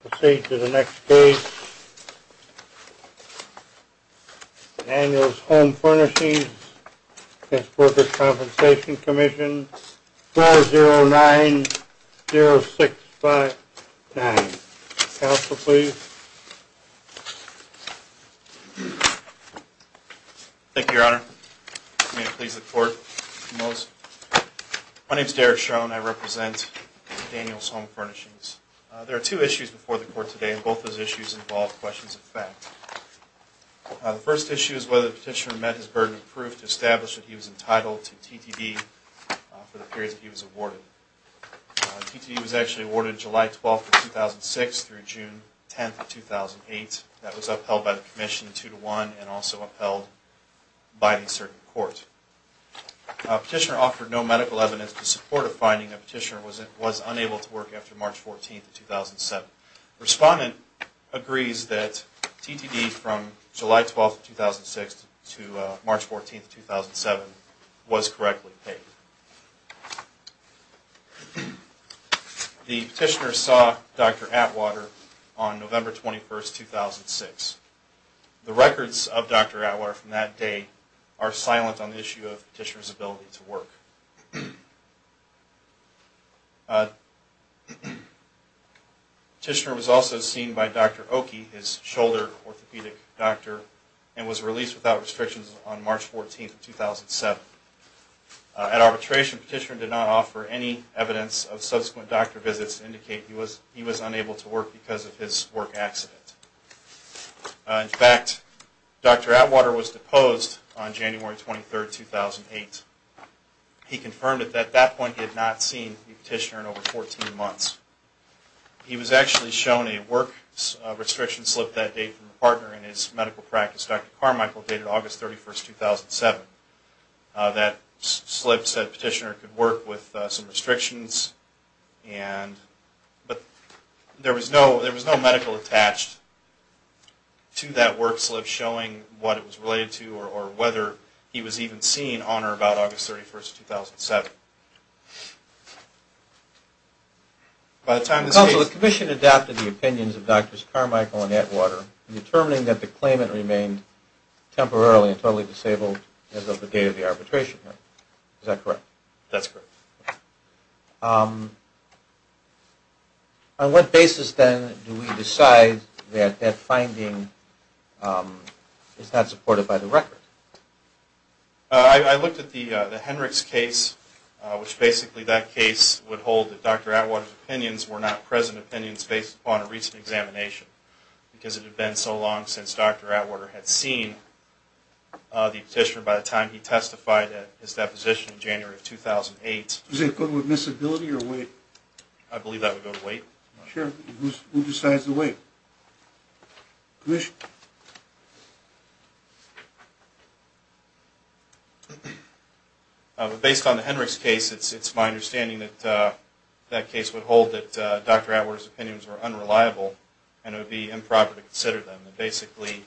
Proceed to the next case. Daniel's Home Furnishings v. The Workers' Compensation Commission, 4090659. Counselor, please. Thank you, Your Honor. May I please look forward to those? My name is Derek Schroen. I represent Daniel's Home Furnishings. There are two issues before the Court today, and both of those issues involve questions of fact. The first issue is whether the Petitioner met his burden of proof to establish that he was entitled to TTD for the period that he was awarded. TTD was actually awarded July 12, 2006 through June 10, 2008. That was upheld by the Commission 2-1 and also upheld by a certain court. The Petitioner offered no medical evidence to support a finding that the Petitioner was unable to work after March 14, 2007. The Respondent agrees that TTD from July 12, 2006 to March 14, 2007 was correctly paid. The Petitioner saw Dr. Atwater on November 21, 2006. The records of Dr. Atwater from that day are silent on the issue of the Petitioner's ability to work. The Petitioner was also seen by Dr. Oakey, his shoulder orthopedic doctor, and was released without restrictions on March 14, 2007. At arbitration, the Petitioner did not offer any evidence of subsequent doctor visits to indicate he was unable to work because of his work accident. In fact, Dr. Atwater was deposed on January 23, 2008. He confirmed at that point that he had not seen the Petitioner in over 14 months. He was actually shown a work restriction slip that day from a partner in his medical practice, Dr. Carmichael, dated August 31, 2007. That slip said the Petitioner could work with some restrictions, but there was no medical attached to that work slip showing what it was related to or whether he was even seen on or about August 31, 2007. By the time this case... Counsel, the Commission adopted the opinions of Drs. Carmichael and Atwater in determining that the claimant remained temporarily and totally disabled as of the date of the arbitration hearing. Is that correct? That's correct. On what basis, then, do we decide that that finding is not supported by the record? I looked at the Henrichs case, which basically that case would hold that Dr. Atwater's opinions were not present opinions based upon a recent examination, because it had been so long since Dr. Atwater had seen the Petitioner by the time he testified at his deposition in January of 2008. Is it a code of admissibility or wait? I believe that would go to wait. Based on the Henrichs case, it's my understanding that that case would hold that Dr. Atwater's opinions were unreliable and it would be improper to consider them. Basically,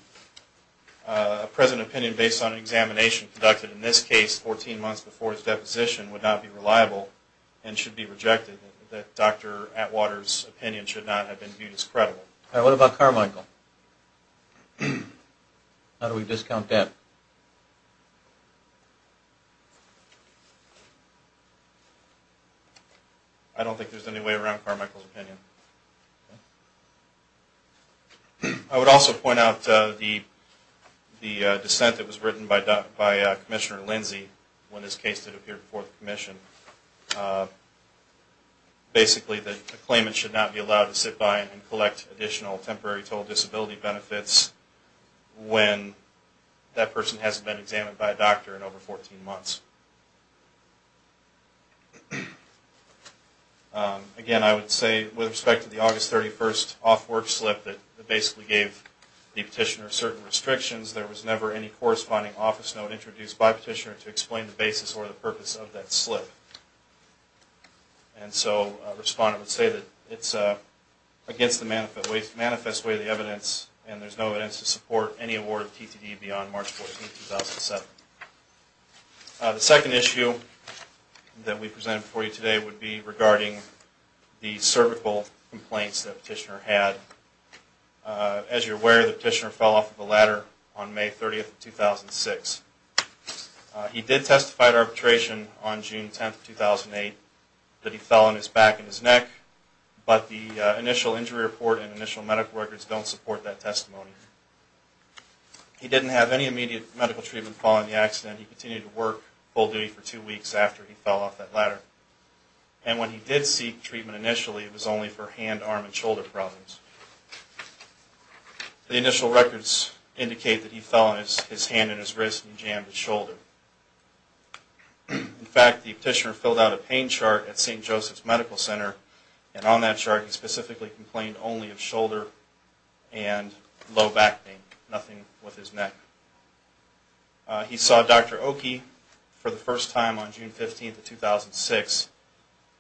a present opinion based on an examination conducted in this case 14 months before his deposition would not be reliable and should be rejected. What about Carmichael? How do we discount that? I don't think there's any way around Carmichael's opinion. I would also point out the dissent that was written by Commissioner Lindsey when this case did appear before the Commission. Basically, the claimant should not be allowed to sit by and collect additional temporary total disability benefits when that person hasn't been examined by a doctor in over 14 months. Again, I would say with respect to the August 31st off-work slip that basically gave the Petitioner certain restrictions, there was never any corresponding office note introduced by the Petitioner to explain the basis or the purpose of that slip. Respondent would say that it's against the manifest way of the evidence and there's no evidence to support any award of TTD beyond March 14, 2007. The second issue that we presented for you today would be regarding the cervical complaints that the Petitioner had. As you're aware, the Petitioner fell off of a ladder on May 30, 2006. He did testify at arbitration on June 10, 2008 that he fell on his back and his neck, but the initial injury report and initial medical records don't support that testimony. He didn't have any immediate medical treatment following the accident. He continued to work full duty for two weeks after he fell off that ladder. And when he did seek treatment initially, it was only for hand, arm and shoulder problems. The initial records indicate that he fell on his hand and his wrist and he jammed his shoulder. In fact, the Petitioner filled out a pain chart at St. Joseph's Medical Center and on that chart he specifically complained only of shoulder and low back pain, nothing with his neck. He saw Dr. Oakey for the first time on June 15, 2006.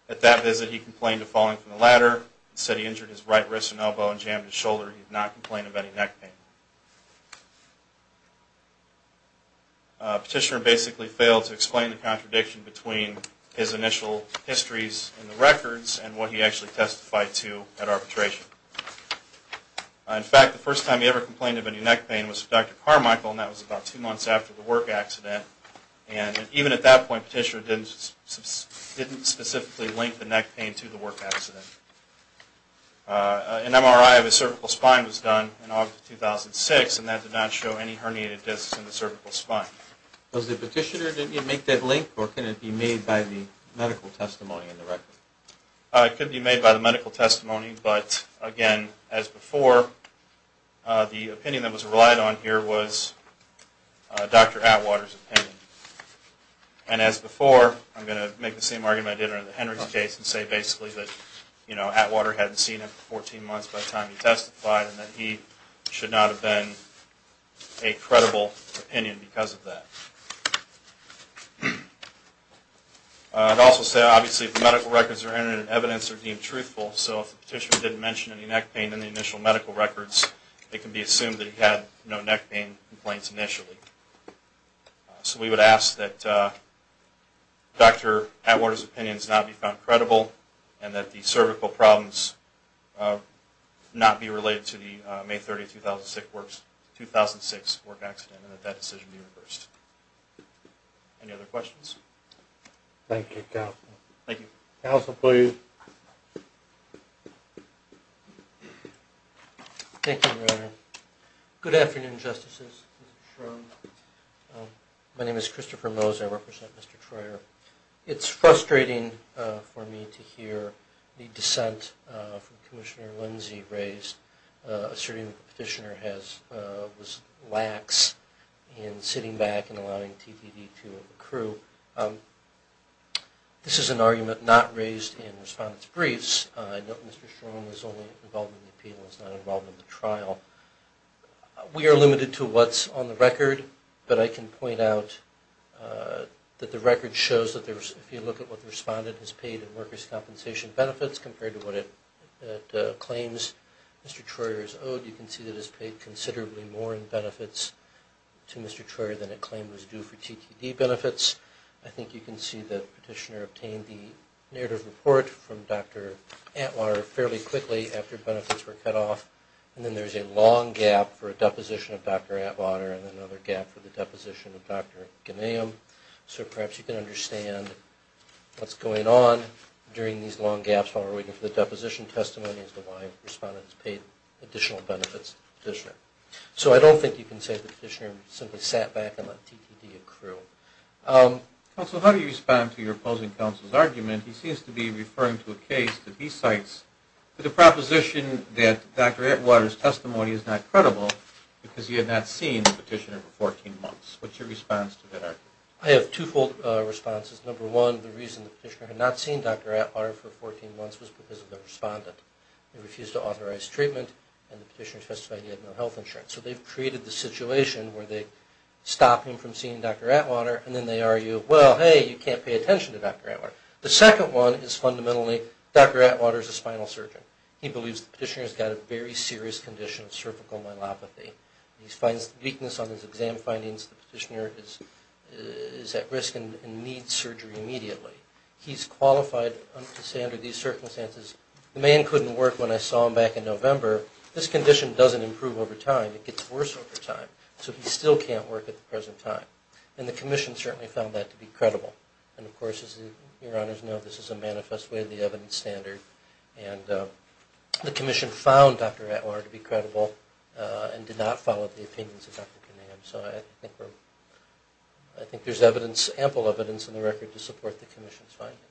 At that visit he complained of falling from the ladder and said he injured his right wrist and elbow and jammed his shoulder. He did not complain of any neck pain. The Petitioner basically failed to explain the contradiction between his initial histories and the records and what he actually testified to at arbitration. In fact, the first time he ever complained of any neck pain was with Dr. Carmichael and that was about two months after the work accident. And even at that point the Petitioner didn't specifically link the neck pain to the work accident. An MRI of his cervical spine was done in August 2006 and that did not show any herniated discs in the cervical spine. Was the Petitioner, did he make that link or can it be made by the medical testimony in the record? It could be made by the medical testimony, but again, as before, the opinion that was relied on here was Dr. Atwater's opinion. And as before, I'm going to make the same argument I did in the Henry's case and say basically that Atwater hadn't seen him for 14 months by the time he testified and that he should not have been a credible opinion because of that. I'd also say obviously if the medical records are entered and evidence are deemed truthful, so if the Petitioner didn't mention any neck pain in the initial medical records, it can be assumed that he had no neck pain complaints initially. So we would ask that Dr. Atwater's opinions not be found credible and that the cervical problems not be related to the May 30, 2006 work accident and that that decision be reversed. Any other questions? Thank you, Your Honor. Good afternoon, Justices. My name is Christopher Mose, I represent Mr. Troyer. It's frustrating for me to hear the dissent from Commissioner Lindsey raised asserting that the Petitioner was lax in sitting back and allowing him to testify. It's frustrating for me to hear the dissent from Commissioner Lindsey raised asserting that the Petitioner was lax in sitting back and allowing him to testify. This is an argument not raised in Respondent's briefs. I note Mr. Stroman was only involved in the appeal and was not involved in the trial. We are limited to what's on the record, but I can point out that the record shows that if you look at what the Respondent has paid in workers' compensation benefits compared to what it claims Mr. Troyer has owed, you can see that it's paid considerably more in benefits to Mr. Troyer than it claimed was due to the Petitioner. I think you can see that Petitioner obtained the narrative report from Dr. Atwater fairly quickly after benefits were cut off. And then there's a long gap for a deposition of Dr. Atwater and another gap for the deposition of Dr. Ganim. So perhaps you can understand what's going on during these long gaps while we're waiting for the deposition testimony as to why Respondent's paid additional benefits to the Petitioner. So I don't think you can say the Petitioner simply sat back and let TTD accrue. Counsel, how do you respond to your opposing counsel's argument? He seems to be referring to a case that he cites with the proposition that Dr. Atwater's testimony is not credible because he had not seen the Petitioner for 14 months. What's your response to that argument? I have twofold responses. Number one, the reason the Petitioner had not seen Dr. Atwater for 14 months was because of the Respondent. They refused to authorize treatment and the Petitioner testified he had no health insurance. So they've created the situation where they stop him from seeing Dr. Atwater and then they argue, well, hey, you can't pay attention to Dr. Atwater. The second one is fundamentally Dr. Atwater's a spinal surgeon. He believes the Petitioner's got a very serious condition of cervical myelopathy. He finds weakness on his exam findings. The Petitioner is at risk and needs surgery immediately. He's qualified to say under these circumstances, the man couldn't work when I saw him back in November. This condition doesn't improve over time. It gets worse over time. So he still can't work at the present time. And the Commission certainly found that to be credible. And of course, as your Honors know, this is a manifest way of the evidence standard. And the Commission found Dr. Atwater to be credible and did not follow the opinions of Dr. Kinnahan. So I think there's evidence, ample evidence in the record to support the Commission's findings.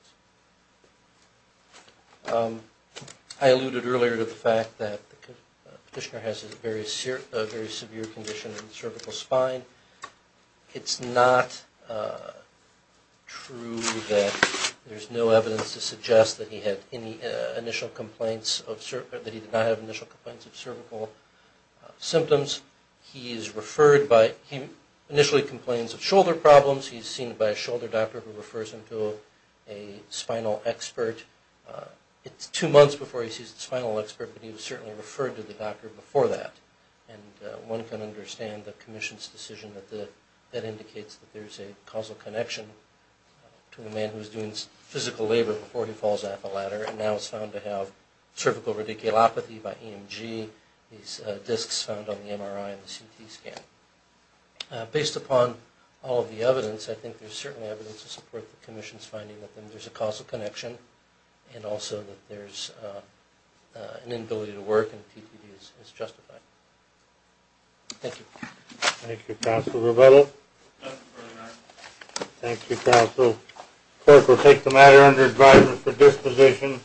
I alluded earlier to the fact that the Petitioner has a very severe condition in the cervical spine. It's not true that there's no evidence to suggest that he had any initial complaints, that he did not have initial complaints of cervical symptoms. He is referred by, he initially complains of shoulder problems. He's seen by a shoulder doctor who refers him to a spinal expert. It's two months before he sees the spinal expert, but he was certainly referred to the doctor before that. And one can understand the Commission's decision that indicates that there's a causal connection to a man who's doing physical labor before he falls off a ladder. And now it's found to have cervical radiculopathy by EMG. These discs found on the MRI and the CT scan. Based upon all of the evidence, I think there's certainly evidence to support the Commission's finding that there's a causal connection. And also that there's an inability to work and the TPD is justified. Thank you. Thank you, Counsel Revello. Thank you, Counsel. The Court will take the matter under advisement for disposition.